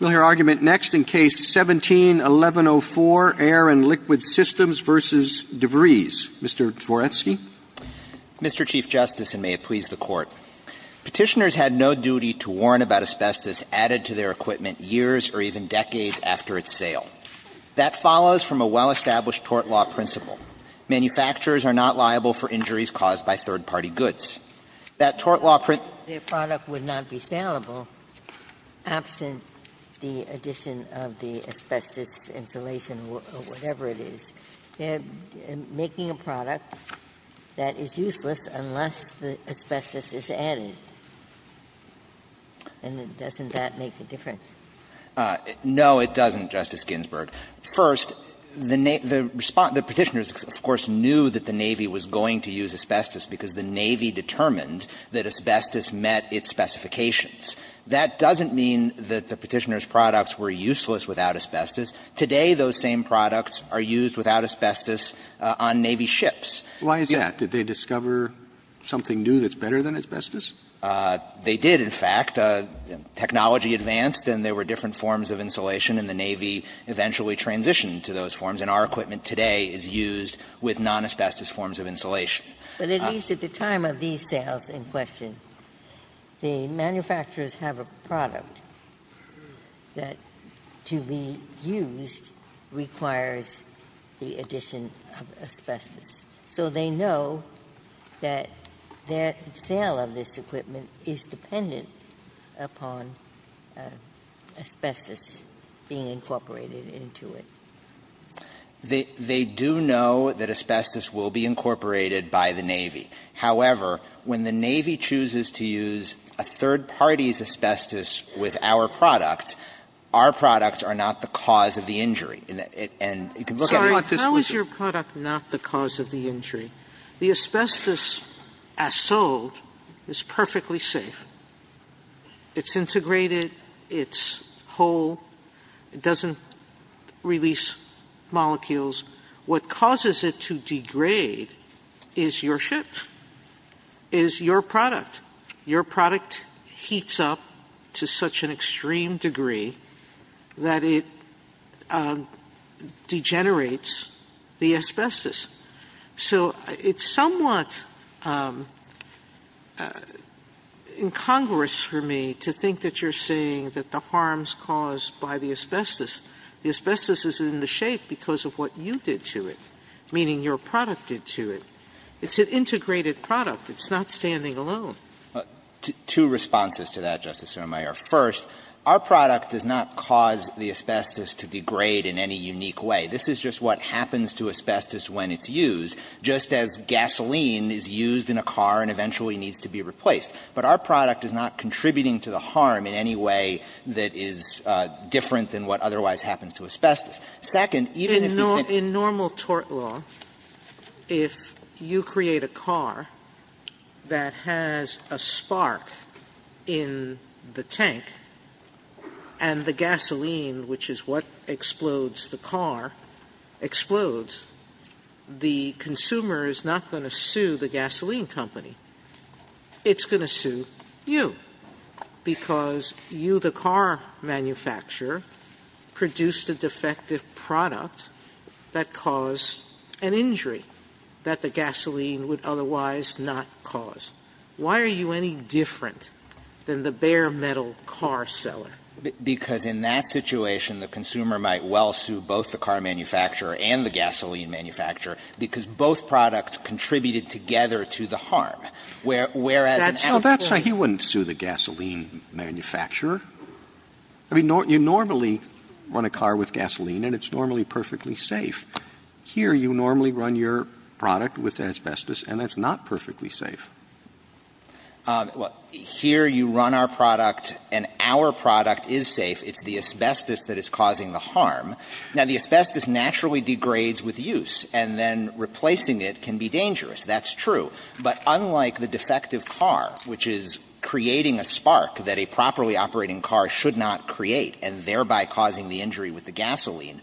We'll hear argument next in Case 17-1104, Air & Liquid Systems v. DeVries. Mr. Dvoretsky. Mr. Chief Justice, and may it please the Court, Petitioners had no duty to warn about asbestos added to their equipment years or even decades after its sale. That follows from a well-established tort law principle. Manufacturers are not liable for injuries caused by third-party goods. That tort law principle would not be saleable absent the addition of the asbestos insulation or whatever it is. They're making a product that is useless unless the asbestos is added. And doesn't that make a difference? No, it doesn't, Justice Ginsburg. First, the Petitioners, of course, knew that the Navy was going to use asbestos because the Navy determined that asbestos met its specifications. That doesn't mean that the Petitioners' products were useless without asbestos. Today, those same products are used without asbestos on Navy ships. Why is that? Did they discover something new that's better than asbestos? They did, in fact. Technology advanced and there were different forms of insulation and the Navy eventually transitioned to those forms. And our equipment today is used with non-asbestos forms of insulation. But at least at the time of these sales in question, the manufacturers have a product that, to be used, requires the addition of asbestos. So they know that their sale of this equipment is dependent upon asbestos being incorporated into it. They do know that asbestos will be incorporated by the Navy. However, when the Navy chooses to use a third party's asbestos with our products, our products are not the cause of the injury. And you can look at it like this. How is your product not the cause of the injury? The asbestos, as sold, is perfectly safe. It's integrated. It's whole. It doesn't release molecules. What causes it to degrade is your ship, is your product. Your product heats up to such an extreme degree that it degenerates the asbestos. So it's somewhat incongruous for me to think that you're saying that the harm is caused by the asbestos. The asbestos is in the shape because of what you did to it, meaning your product did to it. It's an integrated product. It's not standing alone. Dreeben. Two responses to that, Justice Sotomayor. First, our product does not cause the asbestos to degrade in any unique way. This is just what happens to asbestos when it's used, just as gasoline is used in a car and eventually needs to be replaced. But our product is not contributing to the harm in any way that is different than what otherwise happens to asbestos. Sotomayor. In normal tort law, if you create a car that has a spark in the tank, and the gasoline, which is what explodes the car, explodes, the consumer is not going to sue the gasoline that caused an injury that the gasoline would otherwise not cause. Why are you any different than the bare-metal car seller? Because in that situation, the consumer might well sue both the car manufacturer and the gasoline manufacturer, because both products contributed together to the harm, whereas an out-of-the-way- That's right. He wouldn't sue the gasoline manufacturer. I mean, you normally run a car with gasoline, and it's normally perfectly safe. Here, you normally run your product with asbestos, and that's not perfectly safe. Well, here you run our product, and our product is safe. It's the asbestos that is causing the harm. Now, the asbestos naturally degrades with use, and then replacing it can be dangerous. That's true. But unlike the defective car, which is creating a spark that a properly operating car should not create, and thereby causing the injury with the gasoline,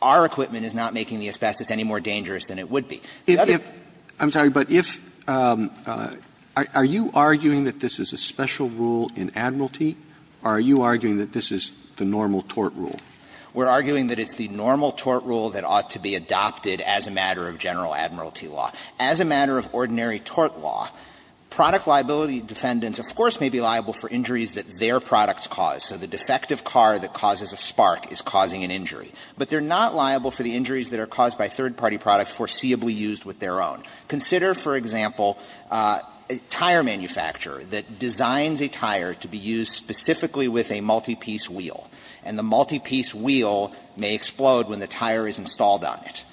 our equipment is not making the asbestos any more dangerous than it would be. If the other- I'm sorry, but if – are you arguing that this is a special rule in Admiralty, or are you arguing that this is the normal tort rule? We're arguing that it's the normal tort rule that ought to be adopted as a matter of general Admiralty law. As a matter of ordinary tort law, product liability defendants, of course, may be liable for injuries that their products cause. So the defective car that causes a spark is causing an injury. But they're not liable for the injuries that are caused by third-party products foreseeably used with their own. Consider, for example, a tire manufacturer that designs a tire to be used specifically with a multi-piece wheel, and the multi-piece wheel may explode when the tire is installed on it.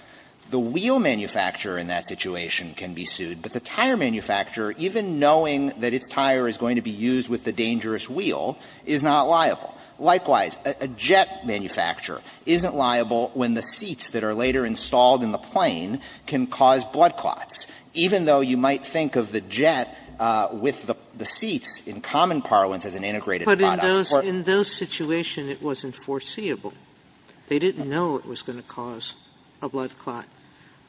The wheel manufacturer in that situation can be sued, but the tire manufacturer, even knowing that its tire is going to be used with the dangerous wheel, is not liable. Likewise, a jet manufacturer isn't liable when the seats that are later installed in the plane can cause blood clots, even though you might think of the jet with the seats in common parlance as an integrated product. Sotomayor, in those situations, it wasn't foreseeable. They didn't know it was going to cause a blood clot.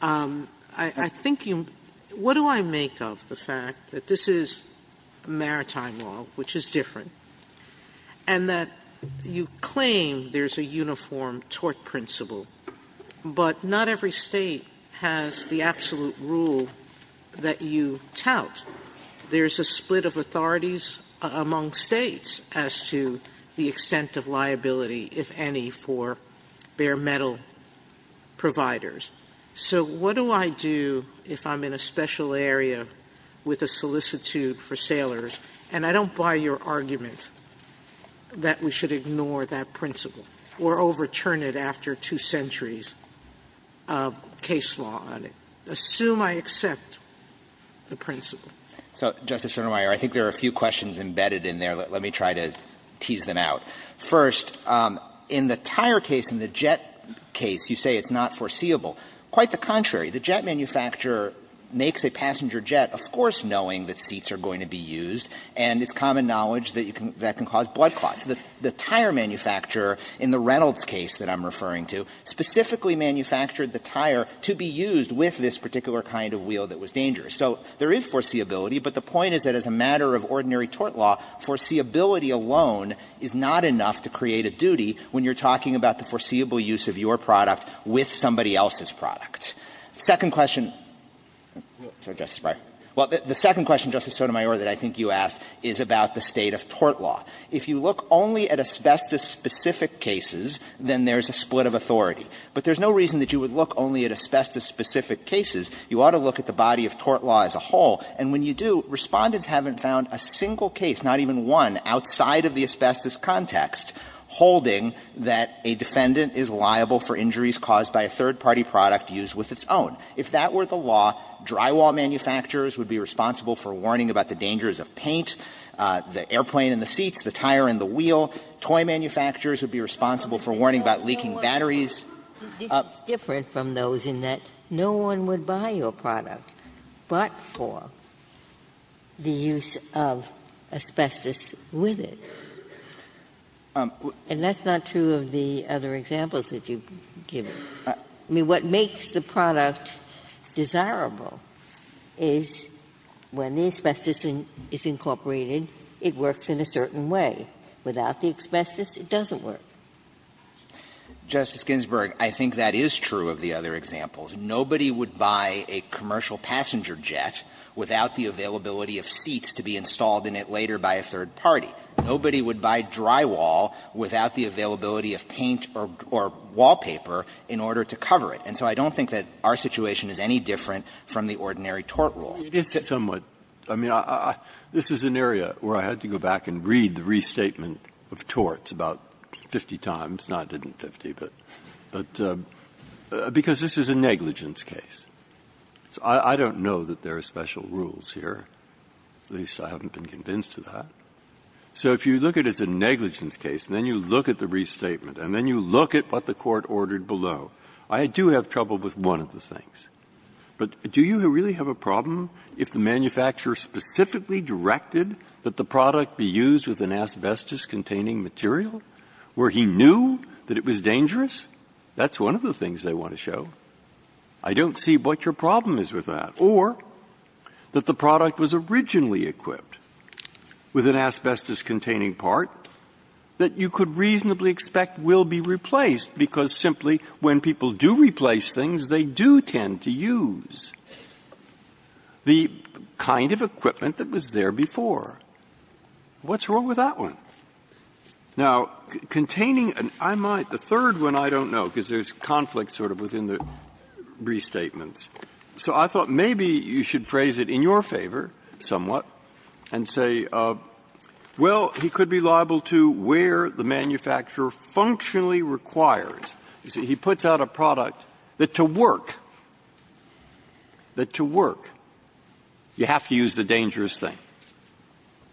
I think you – what do I make of the fact that this is maritime law, which is different, and that you claim there's a uniform tort principle, but not every state has the absolute rule that you tout. There's a split of authorities among states as to the extent of liability, if any, for bare metal providers. So what do I do if I'm in a special area with a solicitude for sailors, and I don't buy your argument that we should ignore that principle or overturn it after two centuries of case law on it. Assume I accept the principle. So, Justice Sotomayor, I think there are a few questions embedded in there. Let me try to tease them out. First, in the tire case, in the jet case, you say it's not foreseeable. Quite the contrary. The jet manufacturer makes a passenger jet, of course knowing that seats are going to be used, and it's common knowledge that you can – that can cause blood clots. The tire manufacturer in the Reynolds case that I'm referring to specifically manufactured the tire to be used with this particular kind of wheel that was dangerous. So there is foreseeability, but the point is that as a matter of ordinary tort law, foreseeability alone is not enough to create a duty when you're talking about the foreseeable use of your product with somebody else's product. Second question – sorry, Justice Breyer. Well, the second question, Justice Sotomayor, that I think you asked is about the state of tort law. If you look only at asbestos-specific cases, then there's a split of authority. But there's no reason that you would look only at asbestos-specific cases. You ought to look at the body of tort law as a whole. And when you do, Respondents haven't found a single case, not even one, outside of the asbestos context holding that a defendant is liable for injuries caused by a third-party product used with its own. If that were the law, drywall manufacturers would be responsible for warning about the dangers of paint, the airplane and the seats, the tire and the wheel. Toy manufacturers would be responsible for warning about leaking batteries. Ginsburg. This is different from those in that no one would buy your product but for the use of asbestos with it. And that's not true of the other examples that you've given. I mean, what makes the product desirable is when the asbestos is incorporated, it works in a certain way. Without the asbestos, it doesn't work. Justice Ginsburg, I think that is true of the other examples. Nobody would buy a commercial passenger jet without the availability of seats to be installed in it later by a third party. Nobody would buy drywall without the availability of paint or wallpaper in order to cover it. And so I don't think that our situation is any different from the ordinary tort rule. Breyer. It is somewhat. I mean, this is an area where I had to go back and read the restatement of torts about 50 times. No, it didn't 50, but because this is a negligence case. I don't know that there are special rules here, at least I haven't been convinced to that. So if you look at it as a negligence case and then you look at the restatement and then you look at what the Court ordered below, I do have trouble with one of the things. But do you really have a problem if the manufacturer specifically directed that the product be used with an asbestos-containing material, where he knew that it was dangerous? That's one of the things they want to show. I don't see what your problem is with that. Or that the product was originally equipped with an asbestos-containing part that you could reasonably expect will be replaced, because simply when people do replace things, they do tend to use the kind of equipment that was there before. What's wrong with that one? Now, containing an amide, the third one I don't know, because there's conflict sort of within the restatements. So I thought maybe you should phrase it in your favor somewhat and say, well, he could be liable to where the manufacturer functionally requires. You see, he puts out a product that to work, that to work, you have to use the dangerous thing.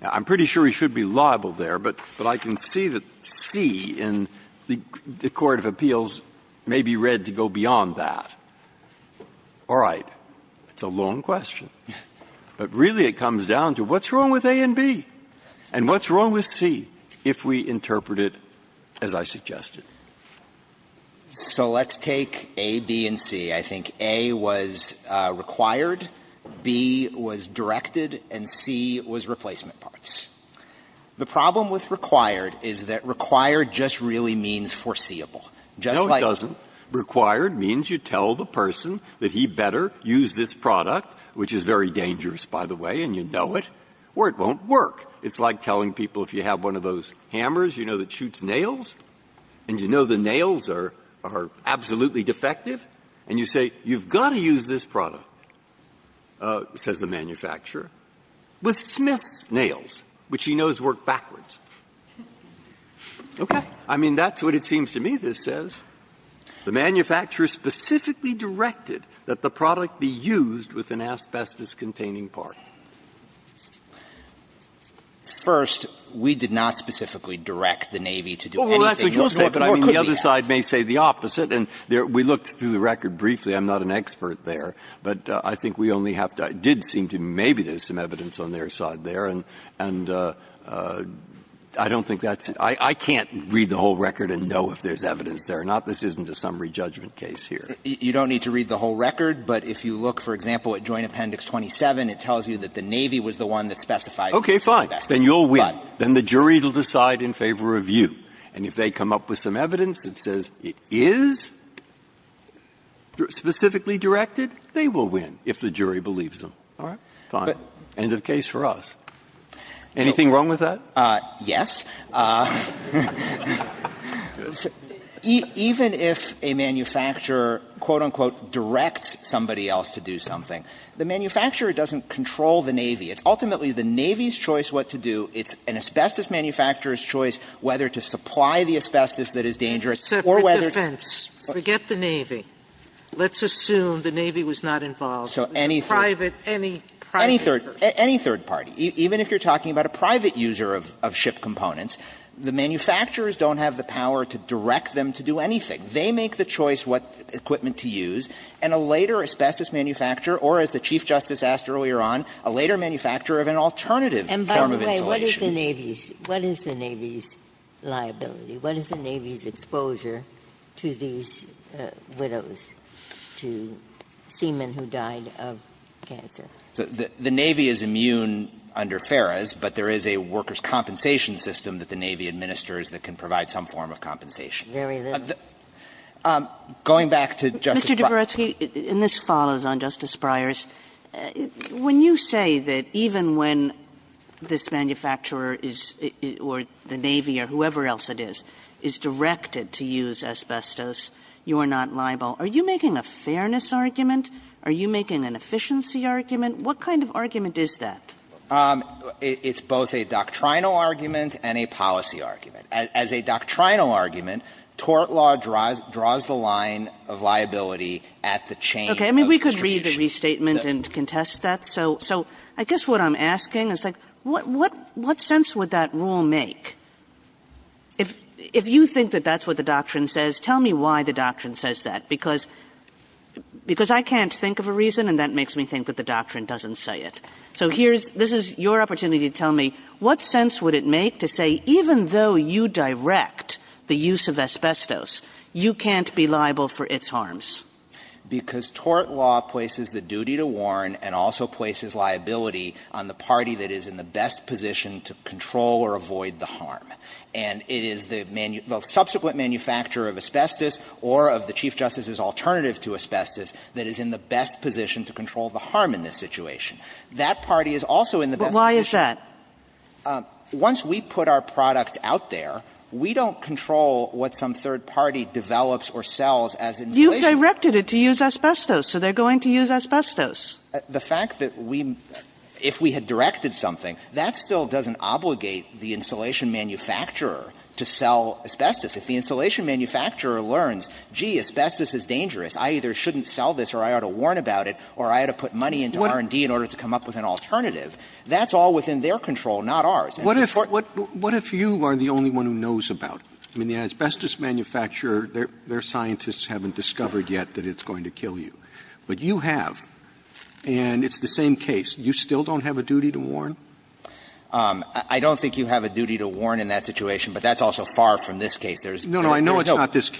Now, I'm pretty sure he should be liable there, but I can see that C in the court of appeals may be read to go beyond that. All right. It's a long question. But really it comes down to what's wrong with A and B, and what's wrong with C if we interpret it as I suggested? So let's take A, B, and C. I think A was required, B was directed, and C was replacement parts. The problem with required is that required just really means foreseeable. Just like the other one. Breyer. No, it doesn't. Required means you tell the person that he better use this product, which is very dangerous, by the way, and you know it, or it won't work. It's like telling people if you have one of those hammers, you know, that shoots nails, and you know the nails are absolutely defective, and you say, you've got to use this product, says the manufacturer, with Smith's nails, which he knows work backwards. Okay. I mean, that's what it seems to me this says. The manufacturer specifically directed that the product be used with an asbestos containing part. First, we did not specifically direct the Navy to do anything that nor could we have. Well, that's what you'll say, but I mean, the other side may say the opposite. And we looked through the record briefly. I'm not an expert there. But I think we only have to do seem to me maybe there's some evidence on their side there. And I don't think that's – I can't read the whole record and know if there's evidence there or not. This isn't a summary judgment case here. You don't need to read the whole record, but if you look, for example, at Joint Appendix 27, it tells you that the Navy was the one that specified the use of asbestos. Breyer Okay. Fine. Then you'll win. Then the jury will decide in favor of you. And if they come up with some evidence that says it is specifically directed, they will win if the jury believes them. All right? Fine. End of case for us. Anything wrong with that? Yes. Even if a manufacturer, quote, unquote, directs somebody else to do something, the manufacturer doesn't control the Navy. It's ultimately the Navy's choice what to do. It's an asbestos manufacturer's choice whether to supply the asbestos that is dangerous or whether to – Sotomayor Separate defense. Forget the Navy. Let's assume the Navy was not involved. Breyer So any third – Sotomayor Private, any private – Breyer Any third party. Even if you're talking about a private user of ship components, the manufacturers don't have the power to direct them to do anything. They make the choice what equipment to use, and a later asbestos manufacturer or, as the Chief Justice asked earlier on, a later manufacturer of an alternative form of insulation. Ginsburg And by the way, what is the Navy's liability? What is the Navy's exposure to these widows, to seamen who died of cancer? Breyer The Navy is immune under FARAS, but there is a workers' compensation system that the Navy administers that can provide some form of compensation. Ginsburg Very little. Breyer Going back to Justice Breyer's – Kagan Mr. Dabrowski, and this follows on Justice Breyer's, when you say that even when this manufacturer is – or the Navy or whoever else it is, is directed to use asbestos, you are not liable, are you making a fairness argument? Are you making an efficiency argument? What kind of argument is that? Dabrowski It's both a doctrinal argument and a policy argument. As a doctrinal argument, tort law draws the line of liability at the chain of distribution. Kagan Okay. I mean, we could read the restatement and contest that. So I guess what I'm asking is, like, what sense would that rule make? If you think that that's what the doctrine says, tell me why the doctrine says that, because I can't think of a reason, and that makes me think that the doctrine doesn't say it. So here's – this is your opportunity to tell me, what sense would it make to say, even though you direct the use of asbestos, you can't be liable for its harms? Dabrowski Because tort law places the duty to warn and also places liability on the party that is in the best position to control or avoid the harm. And it is the – the subsequent manufacturer of asbestos or of the Chief Justice's alternative to asbestos that is in the best position to control the harm in this situation. That party is also in the best position. Kagan But why is that? Dabrowski Once we put our product out there, we don't control what some third party develops or sells as insulation. Kagan You've directed it to use asbestos, so they're going to use asbestos. Dabrowski The fact that we – if we had directed something, that still doesn't obligate the insulation manufacturer to sell asbestos. If the insulation manufacturer learns, gee, asbestos is dangerous, I either shouldn't sell this or I ought to warn about it or I ought to put money into R&D in order to come up with an alternative, that's all within their control, not ours. And the tort law doesn't do that. Roberts What if you are the only one who knows about it? I mean, the asbestos manufacturer, their scientists haven't discovered yet that it's going to kill you. But you have, and it's the same case. You still don't have a duty to warn? Dabrowski I don't think you have a duty to warn in that situation, but that's also far from this case. There's no – Roberts If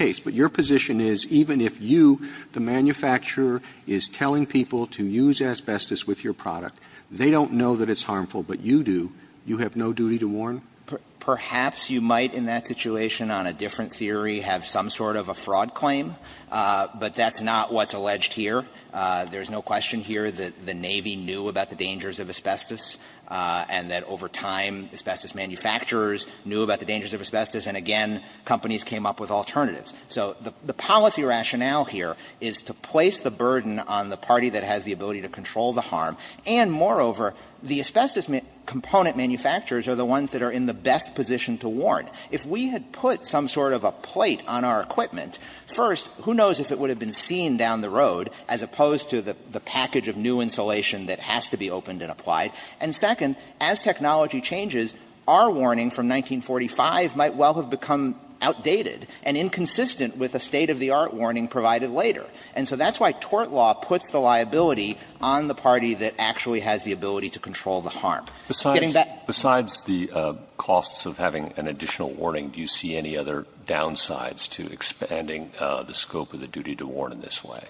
the manufacturer is telling people to use asbestos with your product, they don't know that it's harmful, but you do, you have no duty to warn? Dabrowski Perhaps you might in that situation on a different theory have some sort of a fraud claim, but that's not what's alleged here. There's no question here that the Navy knew about the dangers of asbestos and that over time asbestos manufacturers knew about the dangers of asbestos, and again, companies came up with alternatives. So the policy rationale here is to place the burden on the party that has the ability to control the harm, and moreover, the asbestos component manufacturers are the ones that are in the best position to warn. If we had put some sort of a plate on our equipment, first, who knows if it would have been seen down the road as opposed to the package of new insulation that has to be opened and applied, and second, as technology changes, our warning from 1945 might well have become outdated and inconsistent with a state-of-the-art warning provided later. And so that's why tort law puts the liability on the party that actually has the ability to control the harm. Getting back to you, Justice Alito. Breyer Besides the costs of having an additional warning, do you see any other downsides to expanding the scope of the duty to warn in this way?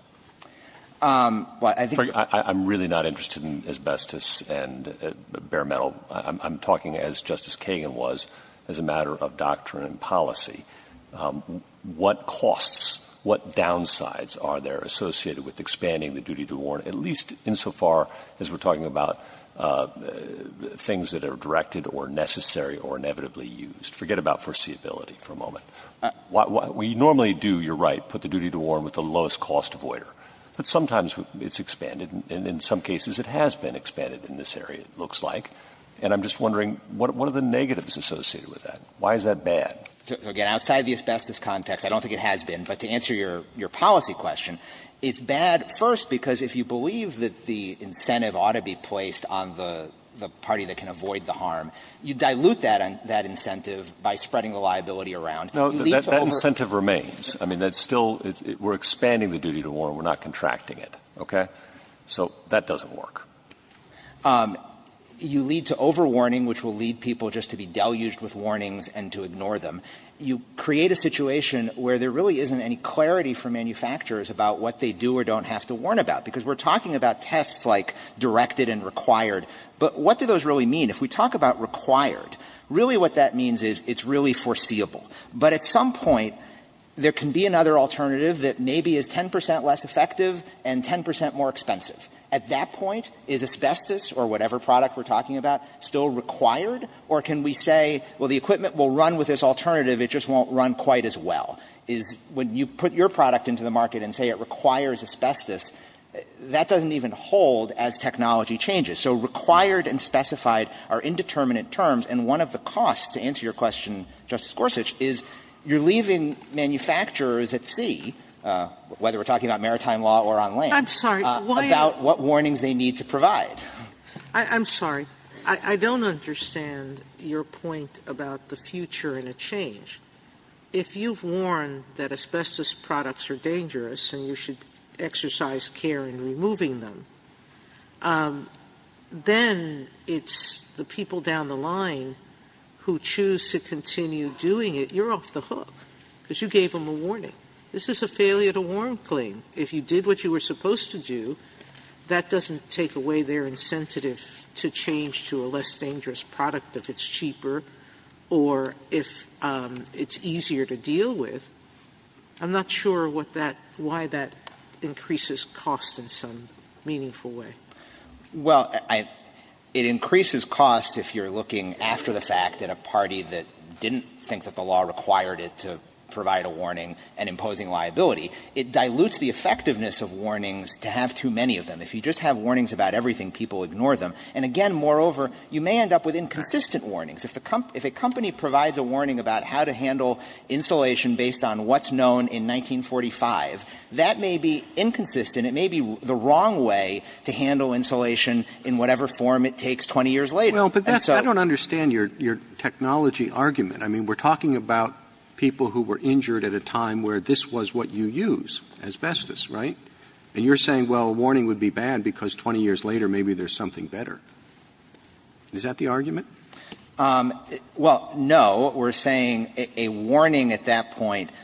Dabrowski Well, I think that's Breyer I'm really not interested in asbestos and bare metal. I'm talking as Justice Kagan was, as a matter of doctrine and policy. What costs, what downsides are there associated with expanding the duty to warn, at least insofar as we're talking about things that are directed or necessary or inevitably used? Forget about foreseeability for a moment. We normally do, you're right, put the duty to warn with the lowest cost avoider. But sometimes it's expanded, and in some cases it has been expanded in this area, it looks like. And I'm just wondering, what are the negatives associated with that? Dabrowski Again, outside the asbestos context, I don't think it has been. But to answer your policy question, it's bad first because if you believe that the incentive ought to be placed on the party that can avoid the harm, you dilute that incentive by spreading the liability around. You lead to over Breyer No, that incentive remains. I mean, that's still we're expanding the duty to warn. We're not contracting it. Okay? So that doesn't work. You lead to overwarning, which will lead people just to be deluged with warnings and to ignore them. You create a situation where there really isn't any clarity for manufacturers about what they do or don't have to warn about, because we're talking about tests like directed and required. But what do those really mean? If we talk about required, really what that means is it's really foreseeable. But at some point, there can be another alternative that maybe is 10 percent less effective and 10 percent more expensive. At that point, is asbestos or whatever product we're talking about still required? Or can we say, well, the equipment will run with this alternative, it just won't run quite as well? Is when you put your product into the market and say it requires asbestos, that doesn't even hold as technology changes. So required and specified are indeterminate terms. And one of the costs, to answer your question, Justice Gorsuch, is you're leaving manufacturers at sea, whether we're talking about maritime law or on land, about what warnings they need to provide. I'm sorry. I don't understand your point about the future and a change. If you've warned that asbestos products are dangerous and you should exercise care in removing them, then it's the people down the line who choose to continue doing it, you're off the hook, because you gave them a warning. This is a failure to warn claim. If you did what you were supposed to do, that doesn't take away their incentive to change to a less dangerous product if it's cheaper or if it's easier to deal with. I'm not sure what that – why that increases cost in some meaningful way. Well, it increases cost if you're looking after the fact at a party that didn't think that the law required it to provide a warning and imposing liability. It dilutes the effectiveness of warnings to have too many of them. If you just have warnings about everything, people ignore them. And again, moreover, you may end up with inconsistent warnings. If a company provides a warning about how to handle insulation based on what's known in 1945, that may be inconsistent. It may be the wrong way to handle insulation in whatever form it takes 20 years later. And so – Well, but that's – I don't understand your technology argument. I mean, we're talking about people who were injured at a time where this was what you use, asbestos, right? And you're saying, well, a warning would be bad because 20 years later maybe there's something better. Is that the argument? Well, no. We're saying a warning at that point –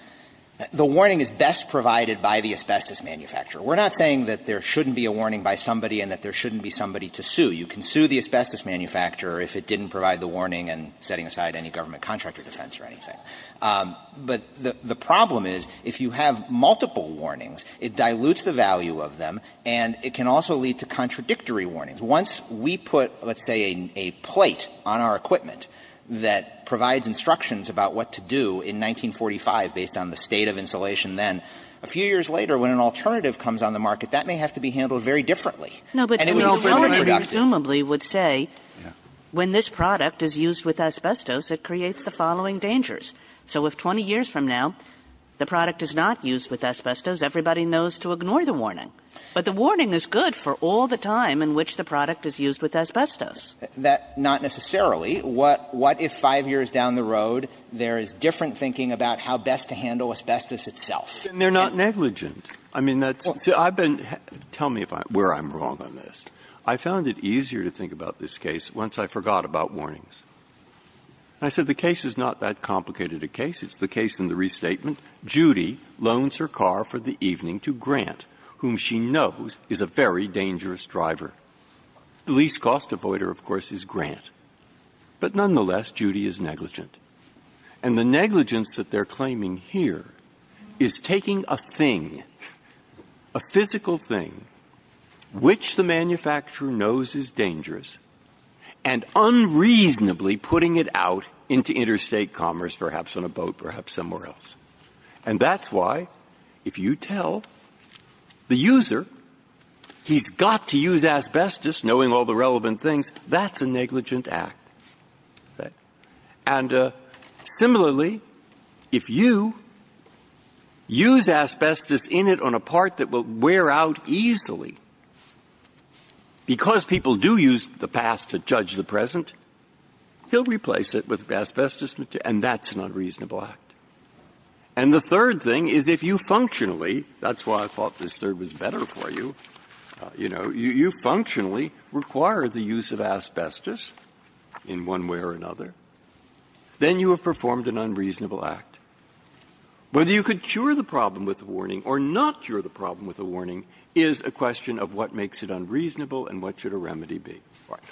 the warning is best provided by the asbestos manufacturer. We're not saying that there shouldn't be a warning by somebody and that there shouldn't be somebody to sue. You can sue the asbestos manufacturer if it didn't provide the warning and setting aside any government contract or defense or anything. But the problem is if you have multiple warnings, it dilutes the value of them and it can also lead to contradictory warnings. Once we put, let's say, a plate on our equipment that provides instructions about what to do in 1945 based on the state of insulation then, a few years later, when an alternative comes on the market, that may have to be handled very differently. And it would be so reductive. Well, I presumably would say when this product is used with asbestos, it creates the following dangers. So if 20 years from now the product is not used with asbestos, everybody knows to ignore the warning. But the warning is good for all the time in which the product is used with asbestos. That's not necessarily. What if 5 years down the road there is different thinking about how best to handle asbestos itself? Then they're not negligent. I mean, that's – see, I've been – tell me where I'm wrong on this. I found it easier to think about this case once I forgot about warnings. And I said the case is not that complicated a case. It's the case in the restatement. Judy loans her car for the evening to Grant, whom she knows is a very dangerous driver. The least cost avoider, of course, is Grant. But nonetheless, Judy is negligent. And the negligence that they're claiming here is taking a thing, a physical thing, which the manufacturer knows is dangerous, and unreasonably putting it out into interstate commerce, perhaps on a boat, perhaps somewhere else. And that's why, if you tell the user he's got to use asbestos, knowing all the relevant things, that's a negligent act. And similarly, if you use asbestos in it on a part that will wear out easily, because people do use the past to judge the present, he'll replace it with asbestos material, and that's an unreasonable act. And the third thing is if you functionally – that's why I thought this third was better for you – you know, you functionally require the use of asbestos in one way or another, then you have performed an unreasonable act. Whether you could cure the problem with a warning or not cure the problem with a warning is a question of what makes it unreasonable and what should a remedy be.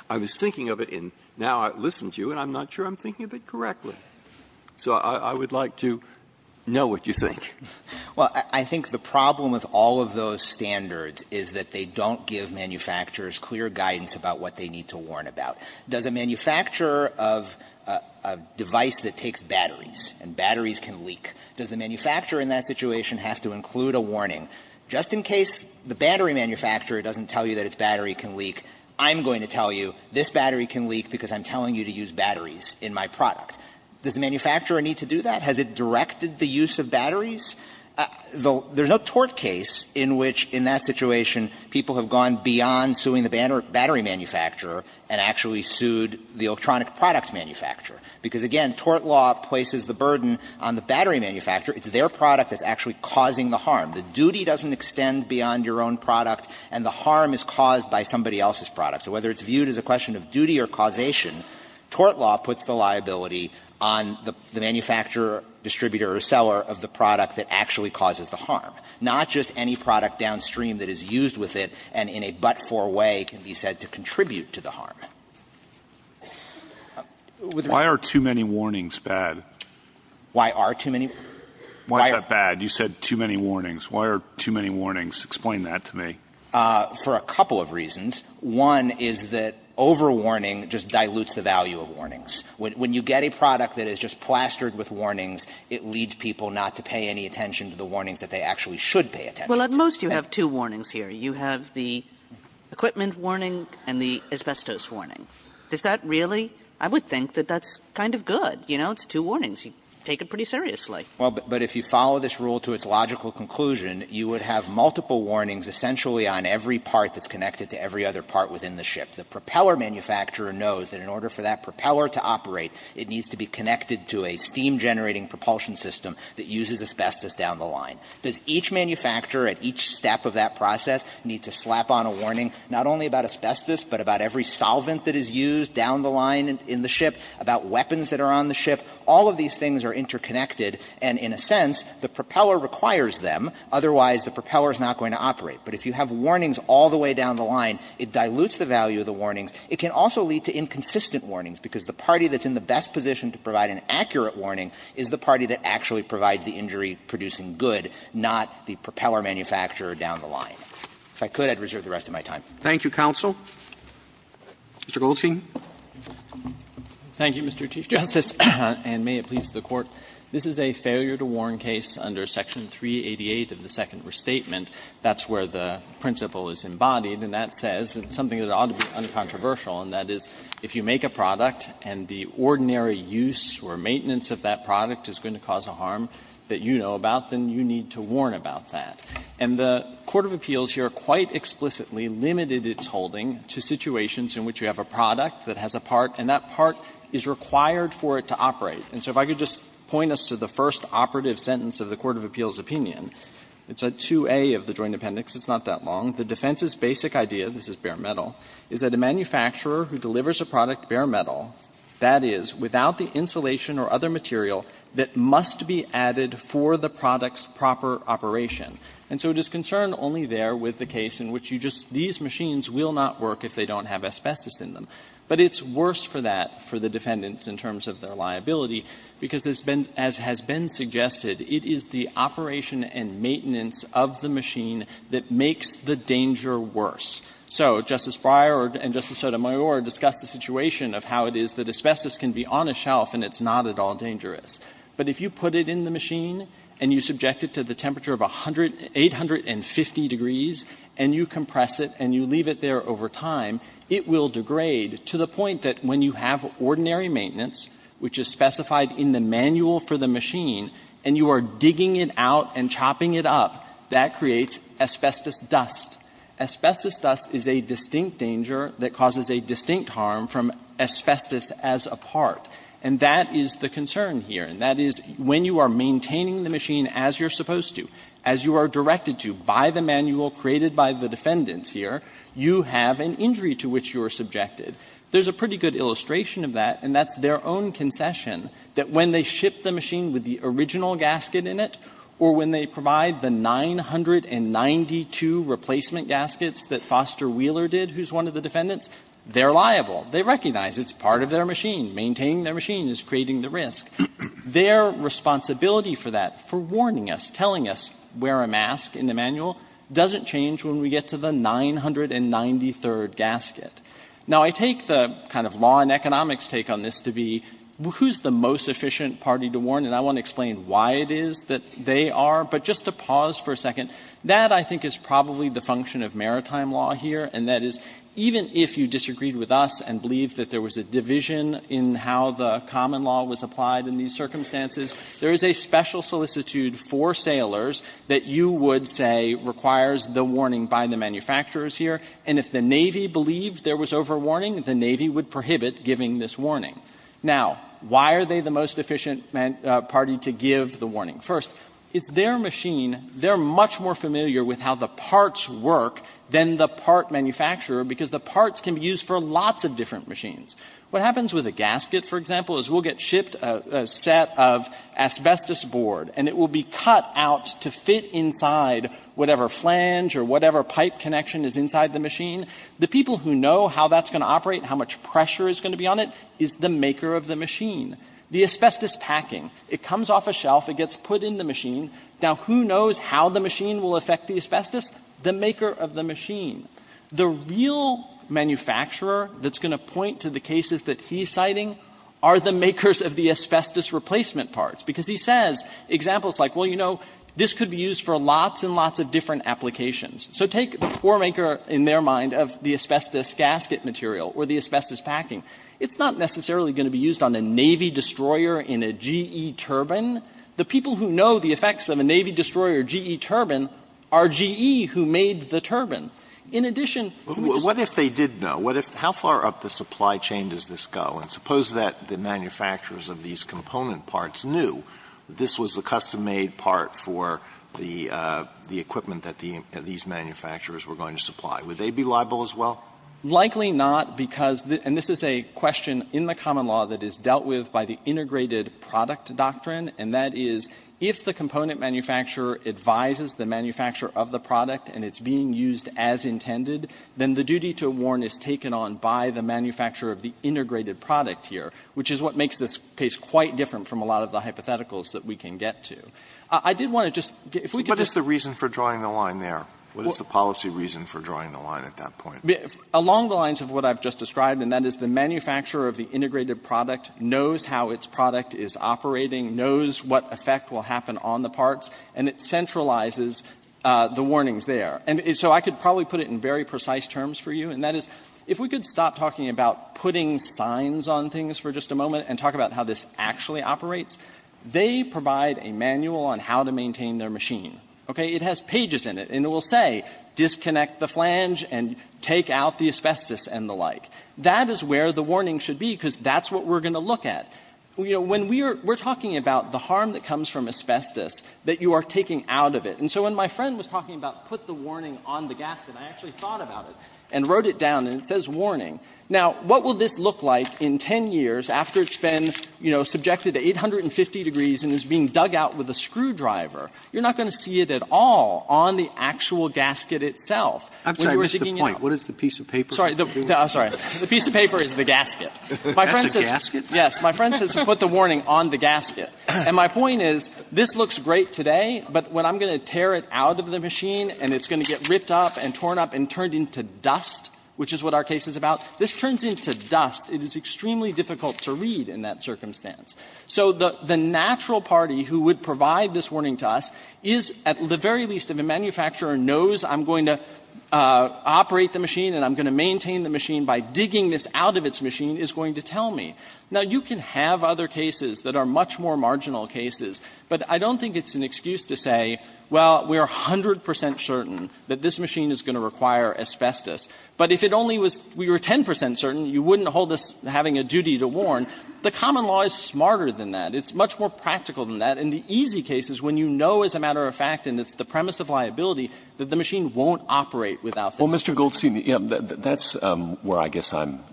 I was thinking of it, and now I've listened to you, and I'm not sure I'm thinking of it correctly. So I would like to know what you think. Well, I think the problem with all of those standards is that they don't give manufacturers clear guidance about what they need to warn about. Does a manufacturer of a device that takes batteries, and batteries can leak, does the manufacturer in that situation have to include a warning? Just in case the battery manufacturer doesn't tell you that its battery can leak, I'm going to tell you this battery can leak because I'm telling you to use batteries in my product. Does the manufacturer need to do that? Has it directed the use of batteries? There's no tort case in which, in that situation, people have gone beyond suing the battery manufacturer and actually sued the electronic product manufacturer, because, again, tort law places the burden on the battery manufacturer. It's their product that's actually causing the harm. The duty doesn't extend beyond your own product, and the harm is caused by somebody else's product. So whether it's viewed as a question of duty or causation, tort law puts the liability on the manufacturer, distributor, or seller of the product that actually causes the harm, not just any product downstream that is used with it and in a but-for way can be said to contribute to the harm. Why are too many warnings bad? Why are too many? Why is that bad? You said too many warnings. Why are too many warnings? Explain that to me. For a couple of reasons. One is that overwarning just dilutes the value of warnings. When you get a product that is just plastered with warnings, it leads people not to pay any attention to the warnings that they actually should pay attention to. Well, at most you have two warnings here. You have the equipment warning and the asbestos warning. Does that really – I would think that that's kind of good. You know, it's two warnings. You take it pretty seriously. Well, but if you follow this rule to its logical conclusion, you would have multiple warnings essentially on every part that's connected to every other part within the ship. The propeller manufacturer knows that in order for that propeller to operate, it needs to be connected to a steam-generating propulsion system that uses asbestos down the line. Does each manufacturer at each step of that process need to slap on a warning not only about asbestos, but about every solvent that is used down the line in the ship, about weapons that are on the ship? All of these things are interconnected, and in a sense, the propeller requires them. Otherwise, the propeller is not going to operate. But if you have warnings all the way down the line, it dilutes the value of the warnings. It can also lead to inconsistent warnings, because the party that's in the best position to provide an accurate warning is the party that actually provides the injury-producing good. Not the propeller manufacturer down the line. If I could, I'd reserve the rest of my time. Roberts. Thank you, counsel. Mr. Goldstein. Goldstein. Thank you, Mr. Chief Justice, and may it please the Court. This is a failure-to-warn case under Section 388 of the Second Restatement. That's where the principle is embodied, and that says something that ought to be uncontroversial, and that is if you make a product and the ordinary use or maintenance of that product is going to cause a harm that you know about, then you need to warn about that. And the court of appeals here quite explicitly limited its holding to situations in which you have a product that has a part, and that part is required for it to operate. And so if I could just point us to the first operative sentence of the court of appeals' opinion. It's at 2A of the Joint Appendix. It's not that long. The defense's basic idea, this is bare metal, is that a manufacturer who delivers that must be added for the product's proper operation. And so it is concerned only there with the case in which you just – these machines will not work if they don't have asbestos in them. But it's worse for that, for the defendants in terms of their liability, because it's been – as has been suggested, it is the operation and maintenance of the machine that makes the danger worse. So Justice Breyer and Justice Sotomayor discussed the situation of how it is that asbestos can be on a shelf and it's not at all dangerous. But if you put it in the machine and you subject it to the temperature of 800 – 850 degrees and you compress it and you leave it there over time, it will degrade to the point that when you have ordinary maintenance, which is specified in the manual for the machine, and you are digging it out and chopping it up, that creates asbestos dust. Asbestos dust is a distinct danger that causes a distinct harm from asbestos as a part. And that is the concern here, and that is when you are maintaining the machine as you're supposed to, as you are directed to by the manual created by the defendants here, you have an injury to which you are subjected. There's a pretty good illustration of that, and that's their own concession, that when they ship the machine with the original gasket in it or when they provide the 992 replacement gaskets that Foster Wheeler did, who's one of the defendants, they're liable. They recognize it's part of their machine. Maintaining their machine is creating the risk. Their responsibility for that, for warning us, telling us, wear a mask in the manual, doesn't change when we get to the 993rd gasket. Now, I take the kind of law and economics take on this to be who's the most efficient party to warn, and I want to explain why it is that they are. But just to pause for a second, that I think is probably the function of maritime law here, and that is, even if you disagreed with us and believed that there was a division in how the common law was applied in these circumstances, there is a special solicitude for sailors that you would say requires the warning by the manufacturers here. And if the Navy believed there was overwarning, the Navy would prohibit giving this warning. Now, why are they the most efficient party to give the warning? First, it's their machine. They're much more familiar with how the parts work than the part manufacturer, because the parts can be used for lots of different machines. What happens with a gasket, for example, is we'll get shipped a set of asbestos board, and it will be cut out to fit inside whatever flange or whatever pipe connection is inside the machine. The people who know how that's going to operate, how much pressure is going to be on it, is the maker of the machine. The asbestos packing, it comes off a shelf, it gets put in the machine. Now, who knows how the machine will affect the asbestos? The maker of the machine. The real manufacturer that's going to point to the cases that he's citing are the makers of the asbestos replacement parts, because he says, examples like, well, you know, this could be used for lots and lots of different applications. So take the poor maker in their mind of the asbestos gasket material or the asbestos packing. It's not necessarily going to be used on a Navy destroyer in a GE turbine. The people who know the effects of a Navy destroyer GE turbine are GE who made the turbine. In addition, who does the company know? Alitoson What if they did know? How far up the supply chain does this go? And suppose that the manufacturers of these component parts knew that this was a custom-made part for the equipment that these manufacturers were going to supply. Would they be liable as well? Shanmugam Likely not, because the – and this is a question in the common law that is dealt with by the integrated product doctrine, and that is, if the component manufacturer advises the manufacturer of the product and it's being used as intended, then the duty to warn is taken on by the manufacturer of the integrated product here, which is what makes this case quite different from a lot of the hypotheticals that we can get to. I did want to just get – if we could just – Alitoson What is the reason for drawing the line there? What is the policy reason for drawing the line at that point? Shanmugam Along the lines of what I've just described, and that is, the manufacturer of the integrated product knows how its product is operating, knows what effect will happen on the parts, and it centralizes the warnings there. And so I could probably put it in very precise terms for you, and that is, if we could stop talking about putting signs on things for just a moment and talk about how this actually operates, they provide a manual on how to maintain their machine, okay? It has pages in it, and it will say, disconnect the flange and take out the asbestos and the like. That is where the warning should be, because that's what we're going to look at. You know, when we are – we're talking about the harm that comes from asbestos that you are taking out of it. And so when my friend was talking about put the warning on the gasket, I actually thought about it and wrote it down, and it says warning. Now, what will this look like in 10 years after it's been, you know, subjected to 850 degrees and is being dug out with a screwdriver? You're not going to see it at all on the actual gasket itself. When you are digging it out. Roberts I'm sorry. What is the piece of paper? Shanmugam Sorry. I'm sorry. The piece of paper is the gasket. My friend says. Alito That's a gasket? Shanmugam Yes. My friend says put the warning on the gasket. And my point is, this looks great today, but when I'm going to tear it out of the machine and it's going to get ripped up and torn up and turned into dust, which is what our case is about, this turns into dust. It is extremely difficult to read in that circumstance. So the natural party who would provide this warning to us is, at the very least, if a manufacturer knows I'm going to operate the machine and I'm going to maintain the machine by digging this out of its machine, is going to tell me. Now, you can have other cases that are much more marginal cases, but I don't think it's an excuse to say, well, we are 100 percent certain that this machine is going to require asbestos. But if it only was we were 10 percent certain, you wouldn't hold us having a duty to warn. The common law is smarter than that. It's much more practical than that. In the easy cases, when you know as a matter of fact, and it's the premise of liability, that the machine won't operate without this. Well, Mr. Goldstein, that's where I guess I'm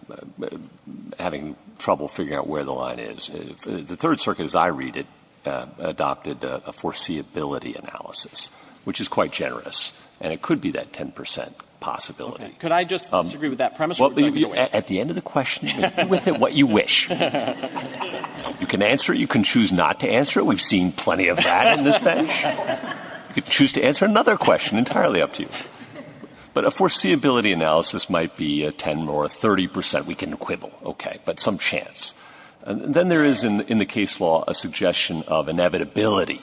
having trouble figuring out where the line is. The Third Circuit, as I read it, adopted a foreseeability analysis, which is quite generous, and it could be that 10 percent possibility. Could I just disagree with that premise? Well, at the end of the question, you can do with it what you wish. You can answer it. You can choose not to answer it. We've seen plenty of that in this bench. You could choose to answer another question. Entirely up to you. But a foreseeability analysis might be 10 or 30 percent. We can quibble, okay, but some chance. And then there is, in the case law, a suggestion of inevitability,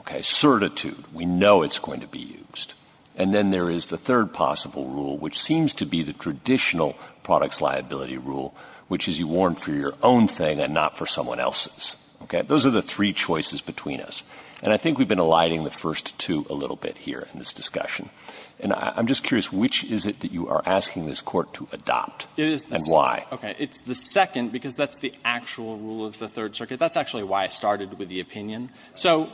okay? Certitude. We know it's going to be used. And then there is the third possible rule, which seems to be the traditional products liability rule, which is you warn for your own thing and not for someone else's, okay? Those are the three choices between us. And I think we've been aligning the first two a little bit here in this discussion. And I'm just curious, which is it that you are asking this Court to adopt, and why? Okay. It's the second, because that's the actual rule of the Third Circuit. That's actually why I started with the opinion. So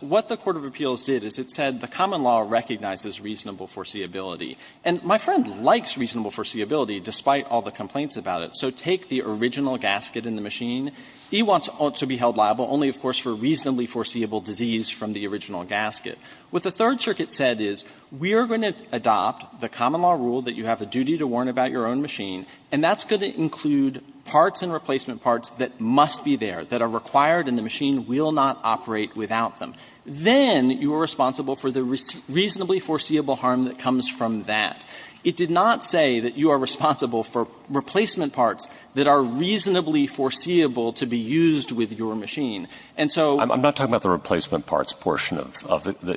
what the court of appeals did is it said the common law recognizes reasonable foreseeability. And my friend likes reasonable foreseeability, despite all the complaints about it. So take the original gasket in the machine. He wants to be held liable only, of course, for reasonably foreseeable disease from the original gasket. What the Third Circuit said is, we are going to adopt the common law rule that you have a duty to warn about your own machine, and that's going to include parts and replacement parts that must be there, that are required and the machine will not operate without them. Then you are responsible for the reasonably foreseeable harm that comes from that. It did not say that you are responsible for replacement parts that are reasonably foreseeable to be used with your machine. The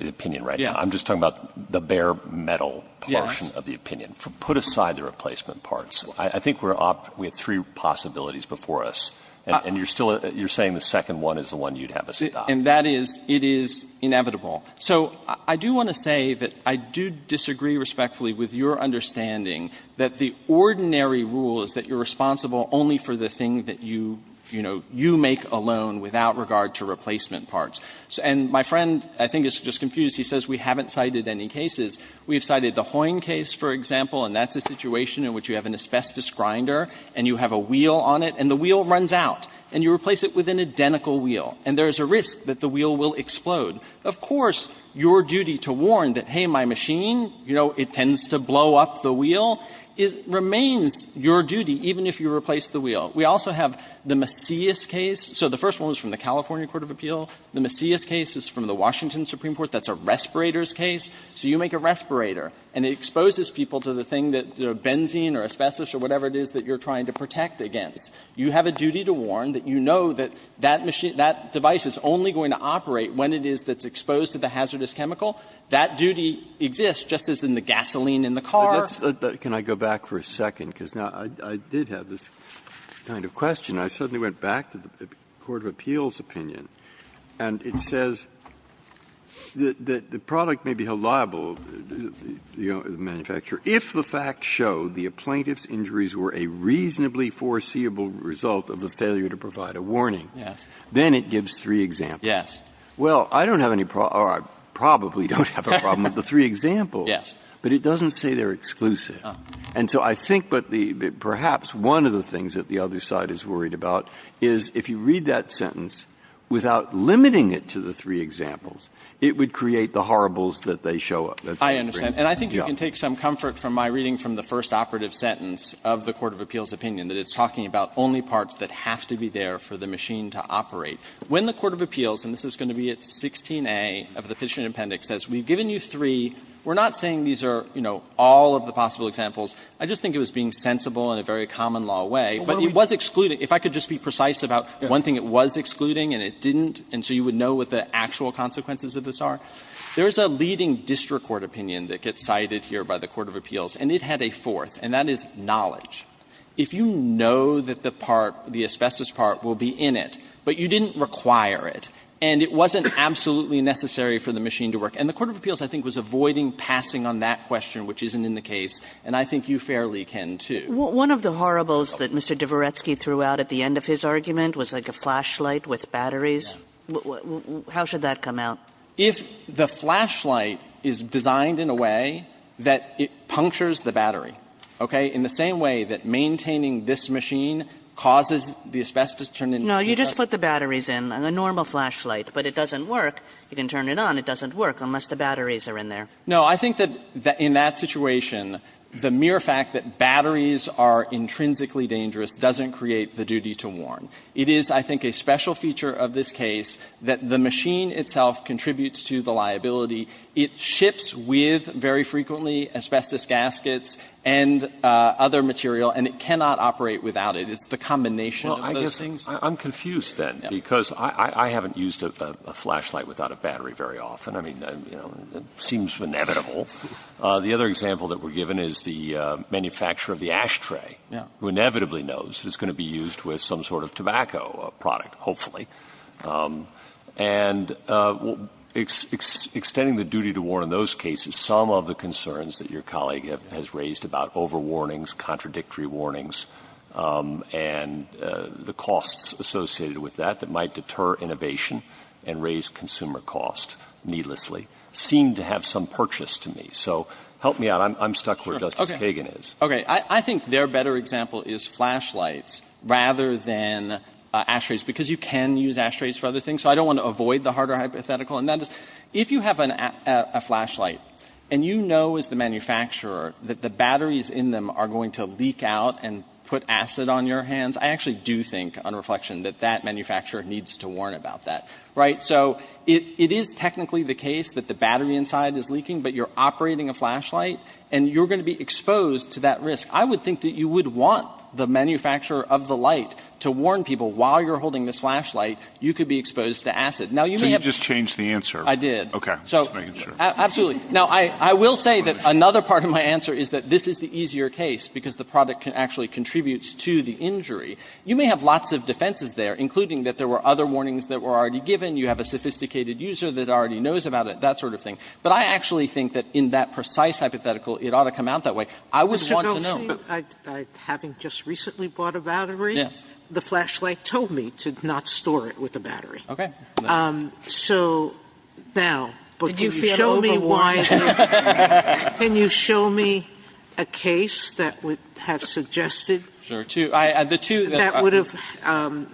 opinion, right? I'm just talking about the bare metal portion of the opinion. Put aside the replacement parts. I think we have three possibilities before us, and you're saying the second one is the one you'd have us adopt. And that is, it is inevitable. So I do want to say that I do disagree respectfully with your understanding that the ordinary rule is that you're responsible only for the thing that you make alone without regard to replacement parts. And my friend, I think, is just confused. He says we haven't cited any cases. We have cited the Hoyne case, for example, and that's a situation in which you have an asbestos grinder and you have a wheel on it and the wheel runs out, and you replace it with an identical wheel, and there is a risk that the wheel will explode. Of course, your duty to warn that, hey, my machine, you know, it tends to blow up the wheel, remains your duty even if you replace the wheel. We also have the Macias case. So the first one was from the California court of appeal. The Macias case is from the Washington Supreme Court. That's a respirator's case. So you make a respirator and it exposes people to the thing that, you know, benzene or asbestos or whatever it is that you're trying to protect against. You have a duty to warn that you know that that device is only going to operate when it is that's exposed to the hazardous chemical. That duty exists just as in the gasoline in the car. Breyer. Breyer. Can I go back for a second? Because now I did have this kind of question. I suddenly went back to the court of appeals' opinion, and it says that the product may be held liable, the manufacturer, if the facts show the plaintiff's injuries were a reasonably foreseeable result of the failure to provide a warning. Then it gives three examples. Well, I don't have any problem or I probably don't have a problem with the three examples, but it doesn't say they are exclusive. And so I think that the perhaps one of the things that the other side is worried about is if you read that sentence without limiting it to the three examples, it would create the horribles that they show up. I understand. And I think you can take some comfort from my reading from the first operative sentence of the court of appeals' opinion, that it's talking about only parts that have to be there for the machine to operate. When the court of appeals, and this is going to be at 16a of the petition appendix, says we've given you three, we're not saying these are, you know, all of the possible examples, I just think it was being sensible in a very common law way. But it was excluding, if I could just be precise about one thing, it was excluding and it didn't, and so you would know what the actual consequences of this are. There is a leading district court opinion that gets cited here by the court of appeals, and it had a fourth, and that is knowledge. If you know that the part, the asbestos part will be in it, but you didn't require it, and it wasn't absolutely necessary for the machine to work, and the court of appeals, I think, was avoiding passing on that question, which isn't in the case, and I think you fairly can, too. Kagan One of the horribles that Mr. Dvoretsky threw out at the end of his argument was like a flashlight with batteries. How should that come out? If the flashlight is designed in a way that it punctures the battery, okay, in the same way that maintaining this machine causes the asbestos to turn into paper. Kagan No, you just put the batteries in, a normal flashlight, but it doesn't work. You can turn it on, it doesn't work, unless the batteries are in there. Gannon No, I think that in that situation, the mere fact that batteries are intrinsically dangerous doesn't create the duty to warn. It is, I think, a special feature of this case that the machine itself contributes to the liability. It ships with, very frequently, asbestos gaskets and other material, and it cannot operate without it. It's the combination of those things. I'm confused, then, because I haven't used a flashlight without a battery very often. I mean, it seems inevitable. The other example that we're given is the manufacturer of the ashtray, who inevitably knows it's going to be used with some sort of tobacco product, hopefully. And extending the duty to warn in those cases, some of the concerns that your that might deter innovation and raise consumer cost, needlessly, seem to have some purchase to me. So help me out. I'm stuck where Justice Kagan is. Gannon Okay. I think their better example is flashlights rather than ashtrays, because you can use ashtrays for other things, so I don't want to avoid the harder hypothetical. And that is, if you have a flashlight and you know, as the manufacturer, that the batteries in them are going to leak out and put acid on your hands, I actually do think, on reflection, that that manufacturer needs to warn about that, right? So it is technically the case that the battery inside is leaking, but you're operating a flashlight, and you're going to be exposed to that risk. I would think that you would want the manufacturer of the light to warn people, while you're holding this flashlight, you could be exposed to acid. Now, you may have So you just changed the answer. I did. Okay. So Just making sure. Absolutely. Now, I will say that another part of my answer is that this is the easier case, because the product actually contributes to the injury. You may have lots of defenses there, including that there were other warnings that were already given. You have a sophisticated user that already knows about it, that sort of thing. But I actually think that in that precise hypothetical, it ought to come out that way. I would want to know. Mr. Goltsy, having just recently bought a battery, the flashlight told me to not store it with a battery. Okay. So now, but can you show me why Can you show me a case that would have suggested Sure. That would have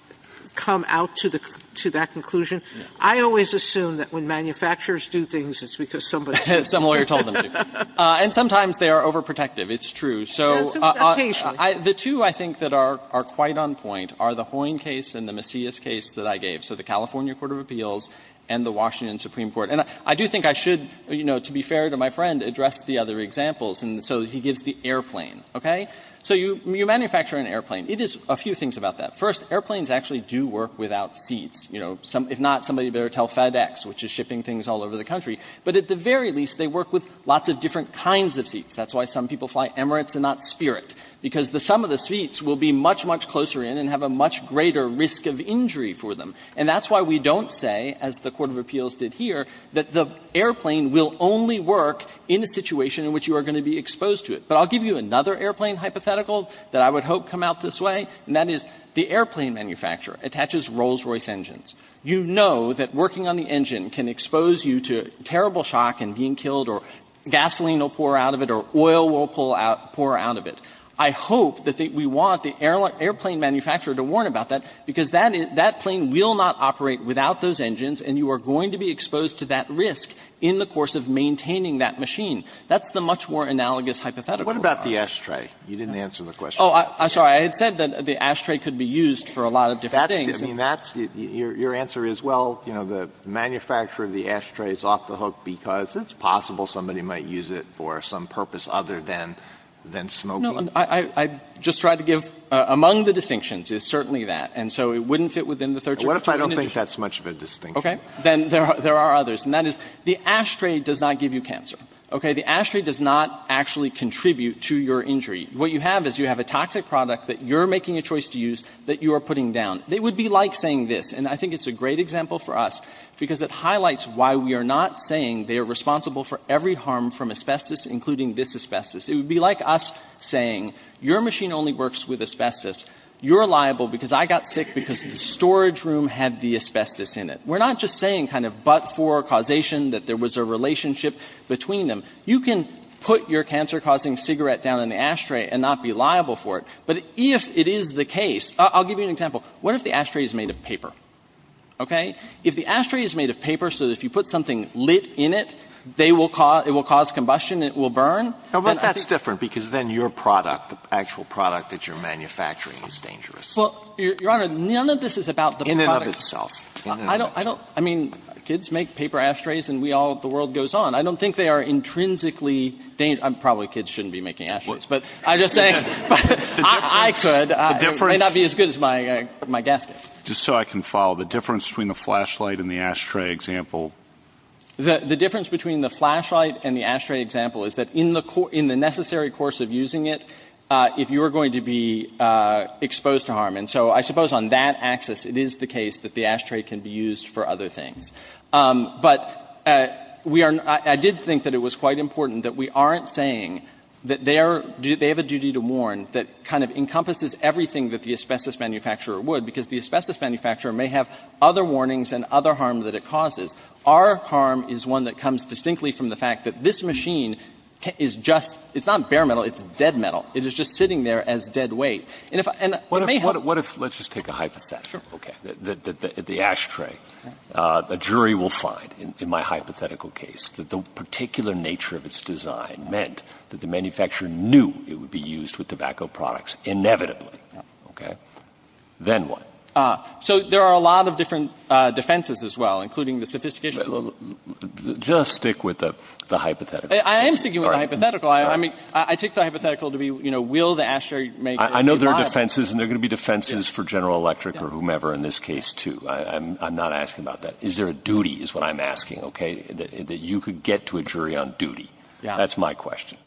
come out to that conclusion. I always assume that when manufacturers do things, it's because somebody says Some lawyer told them to. And sometimes they are overprotective. It's true. So the two, I think, that are quite on point are the Hoyne case and the Macias case that I gave. So the California Court of Appeals and the Washington Supreme Court. And I do think I should, you know, to be fair to my friend, address the other examples. And so he gives the airplane. Okay. So you manufacture an airplane. It is a few things about that. First, airplanes actually do work without seats. You know, if not, somebody better tell FedEx, which is shipping things all over the country. But at the very least, they work with lots of different kinds of seats. That's why some people fly Emirates and not Spirit, because the sum of the seats will be much, much closer in and have a much greater risk of injury for them. And that's why we don't say, as the Court of Appeals did here, that the airplane will only work in a situation in which you are going to be exposed to it. But I'll give you another airplane hypothetical that I would hope come out this way, and that is the airplane manufacturer attaches Rolls-Royce engines. You know that working on the engine can expose you to terrible shock and being killed, or gasoline will pour out of it, or oil will pour out of it. I hope that we want the airplane manufacturer to warn about that, because that plane will not operate without those engines, and you are going to be exposed to that risk in the course of maintaining that machine. That's the much more analogous hypothetical. But what about the ashtray? You didn't answer the question. Oh, I'm sorry. I had said that the ashtray could be used for a lot of different things. That's the – I mean, that's – your answer is, well, you know, the manufacturer of the ashtray is off the hook because it's possible somebody might use it for some purpose other than – than smoking. No. I just tried to give – among the distinctions, it's certainly that. And so it wouldn't fit within the third jury. What if I don't think that's much of a distinction? Okay. Then there are others. And that is, the ashtray does not give you cancer. Okay. The ashtray does not actually contribute to your injury. What you have is you have a toxic product that you're making a choice to use that you are putting down. It would be like saying this, and I think it's a great example for us because it highlights why we are not saying they are responsible for every harm from asbestos, including this asbestos. It would be like us saying, your machine only works with asbestos. You're liable because I got sick because the storage room had the asbestos in it. We're not just saying kind of but for causation that there was a relationship between them. You can put your cancer-causing cigarette down in the ashtray and not be liable for it. But if it is the case – I'll give you an example. What if the ashtray is made of paper? Okay. If the ashtray is made of paper so that if you put something lit in it, they will cause – it will cause combustion and it will burn, then I think – But that's different because then your product, the actual product that you're manufacturing is dangerous. Well, Your Honor, none of this is about the product. In and of itself. I don't – I mean, kids make paper ashtrays and we all – the world goes on. I don't think they are intrinsically – probably kids shouldn't be making ashtrays. But I'm just saying – I could. It may not be as good as my gasket. Just so I can follow, the difference between the flashlight and the ashtray example? The difference between the flashlight and the ashtray example is that in the necessary course of using it, if you're going to be exposed to harm. And so I suppose on that axis, it is the case that the ashtray can be used for other things. But we are – I did think that it was quite important that we aren't saying that they are – they have a duty to warn that kind of encompasses everything that the asbestos manufacturer would because the asbestos manufacturer may have other warnings and other harm that it causes. Our harm is one that comes distinctly from the fact that this machine is just – it's not bare metal. It's dead metal. It is just sitting there as dead weight. And if – and it may have – What if – let's just take a hypothesis. Sure. Okay. That the ashtray, a jury will find, in my hypothetical case, that the particular nature of its design meant that the manufacturer knew it would be used with tobacco products, inevitably. Okay. Then what? So there are a lot of different defenses as well, including the sophistication Just stick with the hypothetical. I am sticking with the hypothetical. I mean, I take the hypothetical to be, you know, will the ashtray make it I know there are defenses, and there are going to be defenses for General Electric or whomever in this case, too. I'm not asking about that. Is there a duty is what I'm asking, okay, that you could get to a jury on duty? Yeah. That's my question.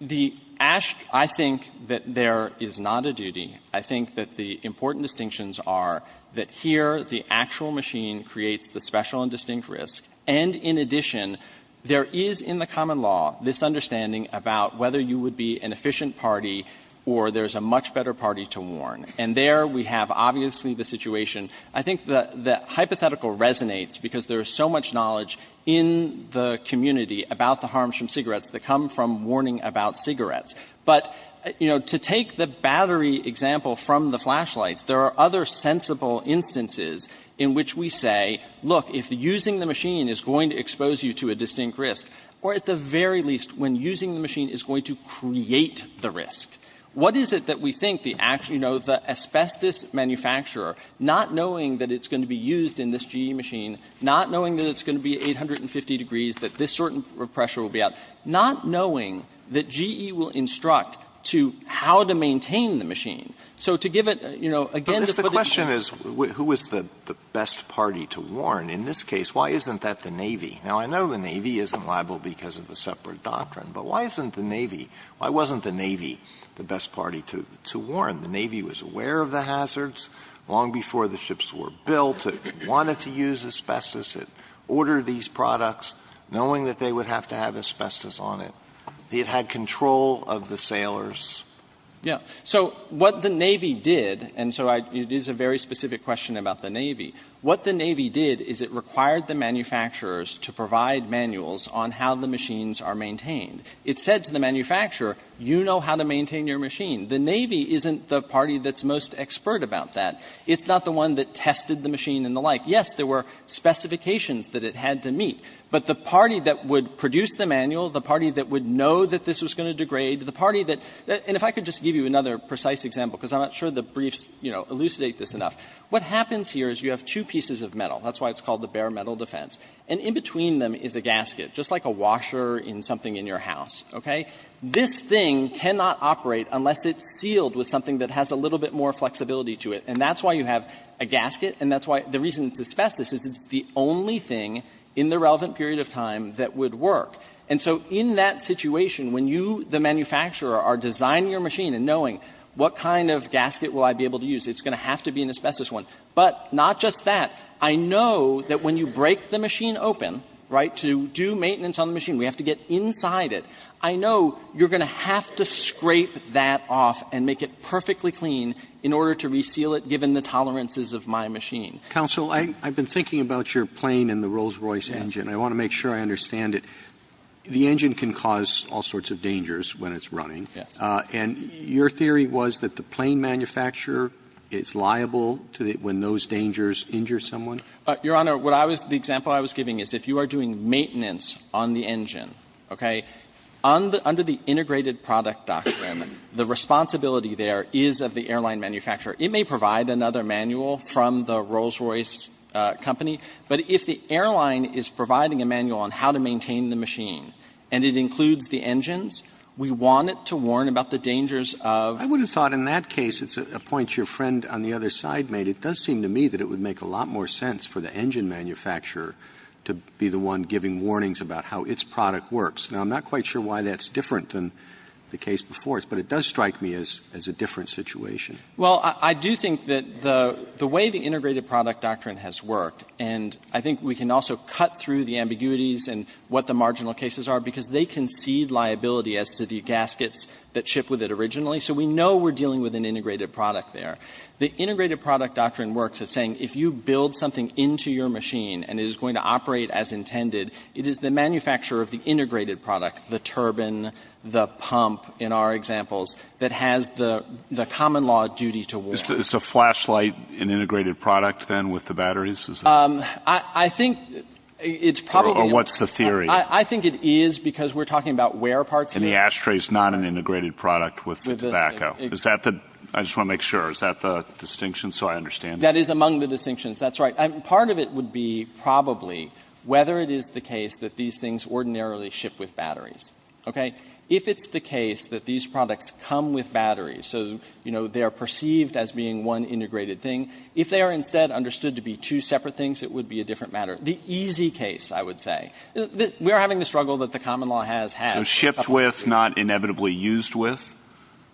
The – I think that there is not a duty. I think that the important distinctions are that here the actual machine creates the special and distinct risk, and in addition, there is in the common law this understanding about whether you would be an efficient party or there's a much better party to warn. And there we have obviously the situation. I think the hypothetical resonates because there is so much knowledge in the community about the harms from cigarettes that come from warning about cigarettes. But, you know, to take the battery example from the flashlights, there are other sensible instances in which we say, look, if using the machine is going to expose you to a distinct risk, or at the very least when using the machine is going to create the risk. What is it that we think the – you know, the asbestos manufacturer, not knowing that it's going to be used in this GE machine, not knowing that it's going to be 850 degrees, that this certain pressure will be out, not knowing that GE will instruct to how to maintain the machine. So to give it, you know, again, to put it in that way. Alito, if the question is who is the best party to warn, in this case, why isn't that the Navy? Now, I know the Navy isn't liable because of a separate doctrine, but why isn't the Navy? Why wasn't the Navy the best party to warn? The Navy was aware of the hazards long before the ships were built. It wanted to use asbestos. It ordered these products knowing that they would have to have asbestos on it. It had control of the sailors. Yeah. So what the Navy did, and so I – it is a very specific question about the Navy. What the Navy did is it required the manufacturers to provide manuals on how the machines are maintained. It said to the manufacturer, you know how to maintain your machine. The Navy isn't the party that's most expert about that. It's not the one that tested the machine and the like. Yes, there were specifications that it had to meet, but the party that would produce the manual, the party that would know that this was going to degrade, the party that – and if I could just give you another precise example, because I'm not sure the briefs, you know, elucidate this enough, what happens here is you have two pieces of metal. That's why it's called the bare metal defense, and in between them is a gasket, just like a washer in something in your house, okay? This thing cannot operate unless it's sealed with something that has a little bit more flexibility to it, and that's why you have a gasket, and that's why – the reason it's asbestos is it's the only thing in the relevant period of time that would work. And so in that situation, when you, the manufacturer, are designing your machine and knowing what kind of gasket will I be able to use, it's going to have to be an asbestos one. But not just that, I know that when you break the machine open, right, to do maintenance on the machine, we have to get inside it, I know you're going to have to scrape that off and make it perfectly clean in order to reseal it, given the tolerances of my machine. Roberts. Counsel, I've been thinking about your plane and the Rolls-Royce engine, and I want to make sure I understand it. The engine can cause all sorts of dangers when it's running, and your theory was that the plane manufacturer is liable to when those dangers injure someone? Your Honor, what I was – the example I was giving is if you are doing maintenance on the engine, okay, under the Integrated Product Doctrine, the responsibility there is of the airline manufacturer. It may provide another manual from the Rolls-Royce company, but if the airline is providing a manual on how to maintain the machine, and it includes the engines, we want it to warn about the dangers of the engine. I would have thought in that case, it's a point your friend on the other side made. It does seem to me that it would make a lot more sense for the engine manufacturer to be the one giving warnings about how its product works. Now, I'm not quite sure why that's different than the case before us, but it does strike me as a different situation. Well, I do think that the way the Integrated Product Doctrine has worked, and I think we can also cut through the ambiguities and what the marginal cases are, because they concede liability as to the gaskets that ship with it originally. So we know we're dealing with an integrated product there. The Integrated Product Doctrine works as saying if you build something into your machine and it is going to operate as intended, it is the manufacturer of the integrated product, the turbine, the pump, in our examples, that has the common law duty to warn. It's a flashlight, an integrated product, then, with the batteries? I think it's probably going to be the same. Or what's the theory? I think it is, because we're talking about where parts of it are— And the ashtray is not an integrated product with the tobacco. Is that the—I just want to make sure. Is that the distinction? So I understand— That is among the distinctions. That's right. And part of it would be probably whether it is the case that these things ordinarily ship with batteries. Okay? If it's the case that these products come with batteries, so, you know, they are perceived as being one integrated thing, if they are instead understood to be two separate things, it would be a different matter. The easy case, I would say. We are having the struggle that the common law has had— So shipped with, not inevitably used with?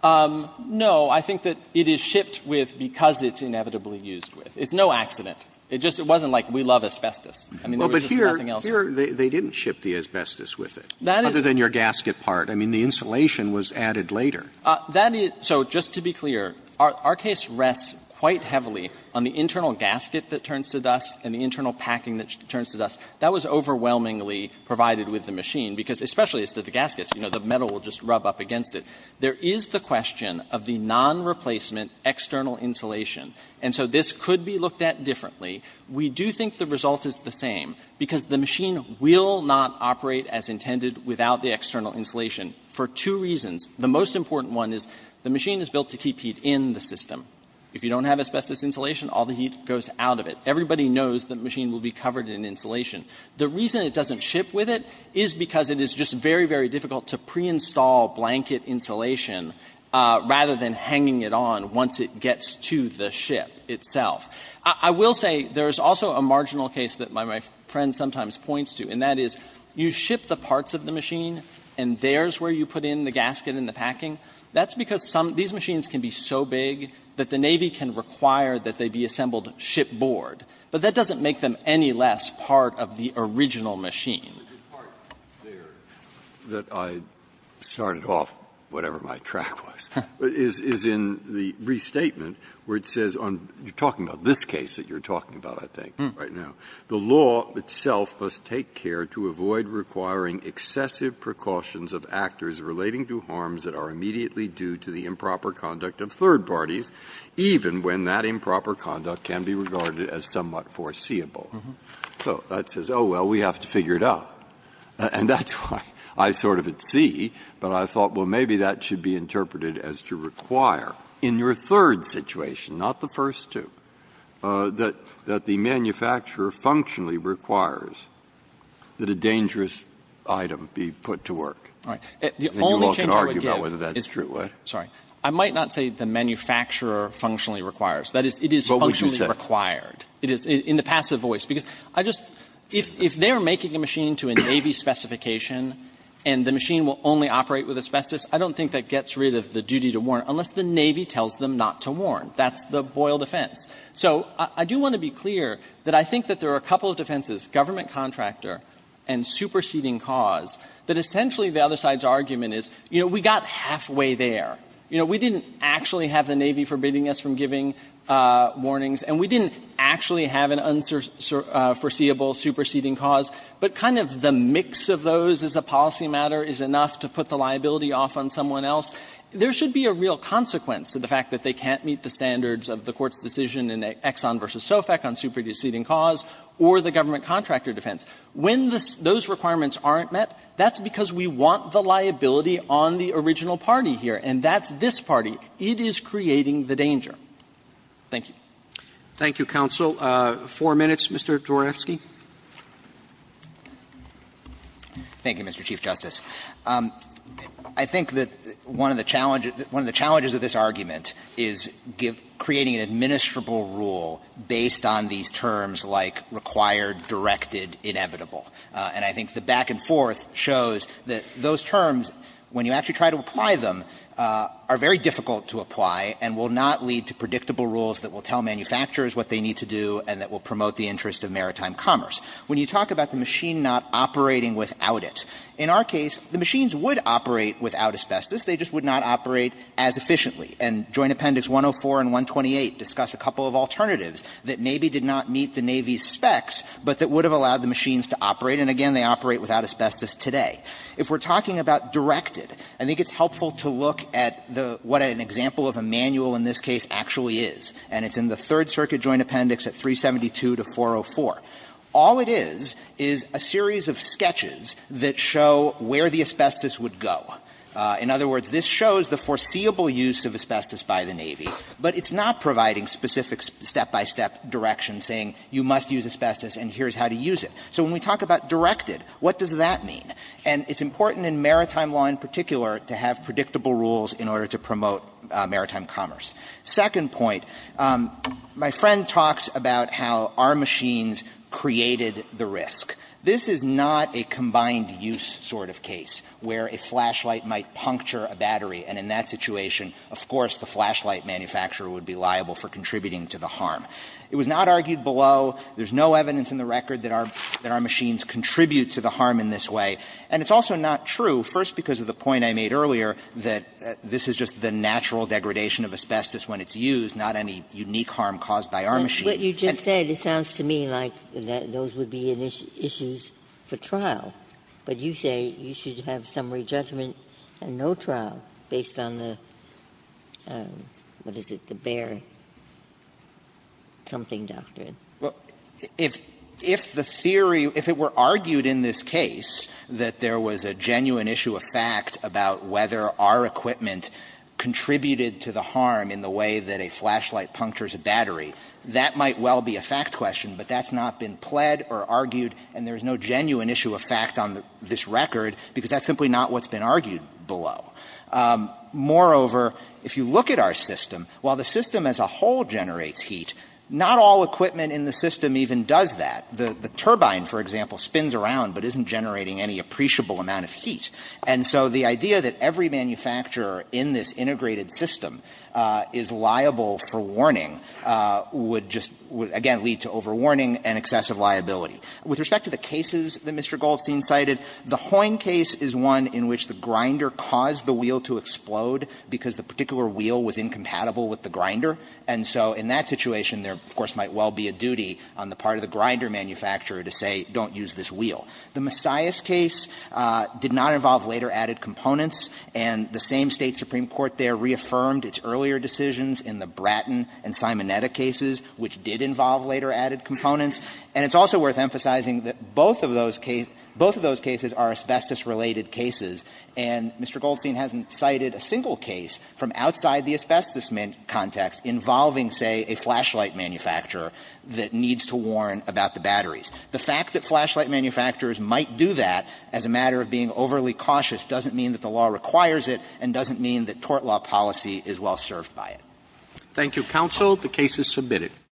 No. I think that it is shipped with because it's inevitably used with. It's no accident. It just wasn't like we love asbestos. I mean, there was just nothing else— Well, but here, here, they didn't ship the asbestos with it, other than your gasket part. I mean, the insulation was added later. That is — so just to be clear, our case rests quite heavily on the internal gasket that turns to dust and the internal packing that turns to dust. That was overwhelmingly provided with the machine, because especially as to the gaskets, you know, the metal will just rub up against it. There is the question of the non-replacement external insulation, and so this could be looked at differently. We do think the result is the same, because the machine will not operate as intended without the external insulation for two reasons. The most important one is the machine is built to keep heat in the system. If you don't have asbestos insulation, all the heat goes out of it. Everybody knows the machine will be covered in insulation. The reason it doesn't ship with it is because it is just very, very difficult to preinstall blanket insulation rather than hanging it on once it gets to the ship itself. I will say there is also a marginal case that my friend sometimes points to, and that is you ship the parts of the machine, and there's where you put in the gasket and the packing. That's because some — these machines can be so big that the Navy can require that they be assembled shipboard, but that doesn't make them any less part of the original machine. Breyer, the part there that I started off, whatever my track was, is in the restatement where it says on — you're talking about this case that you're talking about, I think, right now. The law itself must take care to avoid requiring excessive precautions of actors relating to harms that are immediately due to the improper conduct of third parties, even when that improper conduct can be regarded as somewhat foreseeable. So that says, oh, well, we have to figure it out. And that's why I sort of at sea, but I thought, well, maybe that should be interpreted as to require in your third situation, not the first two, that the manufacturer functionally requires that a dangerous item be put to work. And you all can argue about whether that's true. I might not say the manufacturer functionally requires. That is, it is functionally required in the passive voice. Because I just — if they're making a machine to a Navy specification, and the machine will only operate with asbestos, I don't think that gets rid of the duty to warn, unless the Navy tells them not to warn. That's the Boyle defense. So I do want to be clear that I think that there are a couple of defenses, government contractor and superseding cause, that essentially the other side's argument is, you know, we got halfway there. You know, we didn't actually have the Navy forbidding us from giving warnings, and we didn't actually have an unforeseeable superseding cause. But kind of the mix of those as a policy matter is enough to put the liability off on someone else. There should be a real consequence to the fact that they can't meet the standards of the Court's decision in Exxon v. Sofec on superseding cause or the government contractor defense. When those requirements aren't met, that's because we want the liability on the original party here, and that's this party. It is creating the danger. Thank you. Roberts. Thank you, counsel. Four minutes, Mr. Dworawski. Dworawski. Thank you, Mr. Chief Justice. I think that one of the challenges of this argument is creating an administrable rule based on these terms like required, directed, inevitable. And I think the back and forth shows that those terms, when you actually try to apply them, are very difficult to apply and will not lead to predictable rules that will tell manufacturers what they need to do and that will promote the interest of maritime commerce. When you talk about the machine not operating without it, in our case, the machines would operate without asbestos. They just would not operate as efficiently. And Joint Appendix 104 and 128 discuss a couple of alternatives that maybe did not meet the Navy's specs, but that would have allowed the machines to operate, and again, they operate without asbestos today. If we're talking about directed, I think it's helpful to look at the what an example of a manual in this case actually is, and it's in the Third Circuit Joint Appendix at 372 to 404. All it is is a series of sketches that show where the asbestos would go. In other words, this shows the foreseeable use of asbestos by the Navy, but it's not providing specific step-by-step directions saying you must use asbestos and here's how to use it. So when we talk about directed, what does that mean? And it's important in maritime law in particular to have predictable rules in order to promote maritime commerce. Second point, my friend talks about how our machines created the risk. This is not a combined-use sort of case where a flashlight might puncture a battery, and in that situation, of course, the flashlight manufacturer would be liable for contributing to the harm. It was not argued below, there's no evidence in the record that our machines contribute to the harm in this way, and it's also not true, first because of the point I made earlier that this is just the natural degradation of asbestos when it's used, not any unique harm caused by our machine. Ginsburg-McCabe. But you just said it sounds to me like those would be issues for trial. But you say you should have summary judgment and no trial based on the, what is it, the Bayer something doctrine. If the theory, if it were argued in this case that there was a genuine issue of fact about whether our equipment contributed to the harm in the way that a flashlight punctures a battery, that might well be a fact question, but that's not been pled or argued, and there's no genuine issue of fact on this record, because that's simply not what's been argued below. Moreover, if you look at our system, while the system as a whole generates heat, not all equipment in the system even does that. The turbine, for example, spins around but isn't generating any appreciable amount of heat, and so the idea that every manufacturer in this integrated system is liable for over-warning would just, again, lead to over-warning and excessive liability. With respect to the cases that Mr. Goldstein cited, the Hoyne case is one in which the grinder caused the wheel to explode because the particular wheel was incompatible with the grinder, and so in that situation, there, of course, might well be a duty on the part of the grinder manufacturer to say don't use this wheel. The Messiah's case did not involve later added components, and the same State supreme court there reaffirmed its earlier decisions in the Bratton and Simonetta cases, which did involve later added components, and it's also worth emphasizing that both of those cases are asbestos-related cases, and Mr. Goldstein hasn't cited a single case from outside the asbestos context involving, say, a flashlight manufacturer that needs to warn about the batteries. The fact that flashlight manufacturers might do that as a matter of being overly cautious doesn't mean that the law requires it and doesn't mean that tort law policy is well served by it. Roberts. Thank you, counsel. The case is submitted.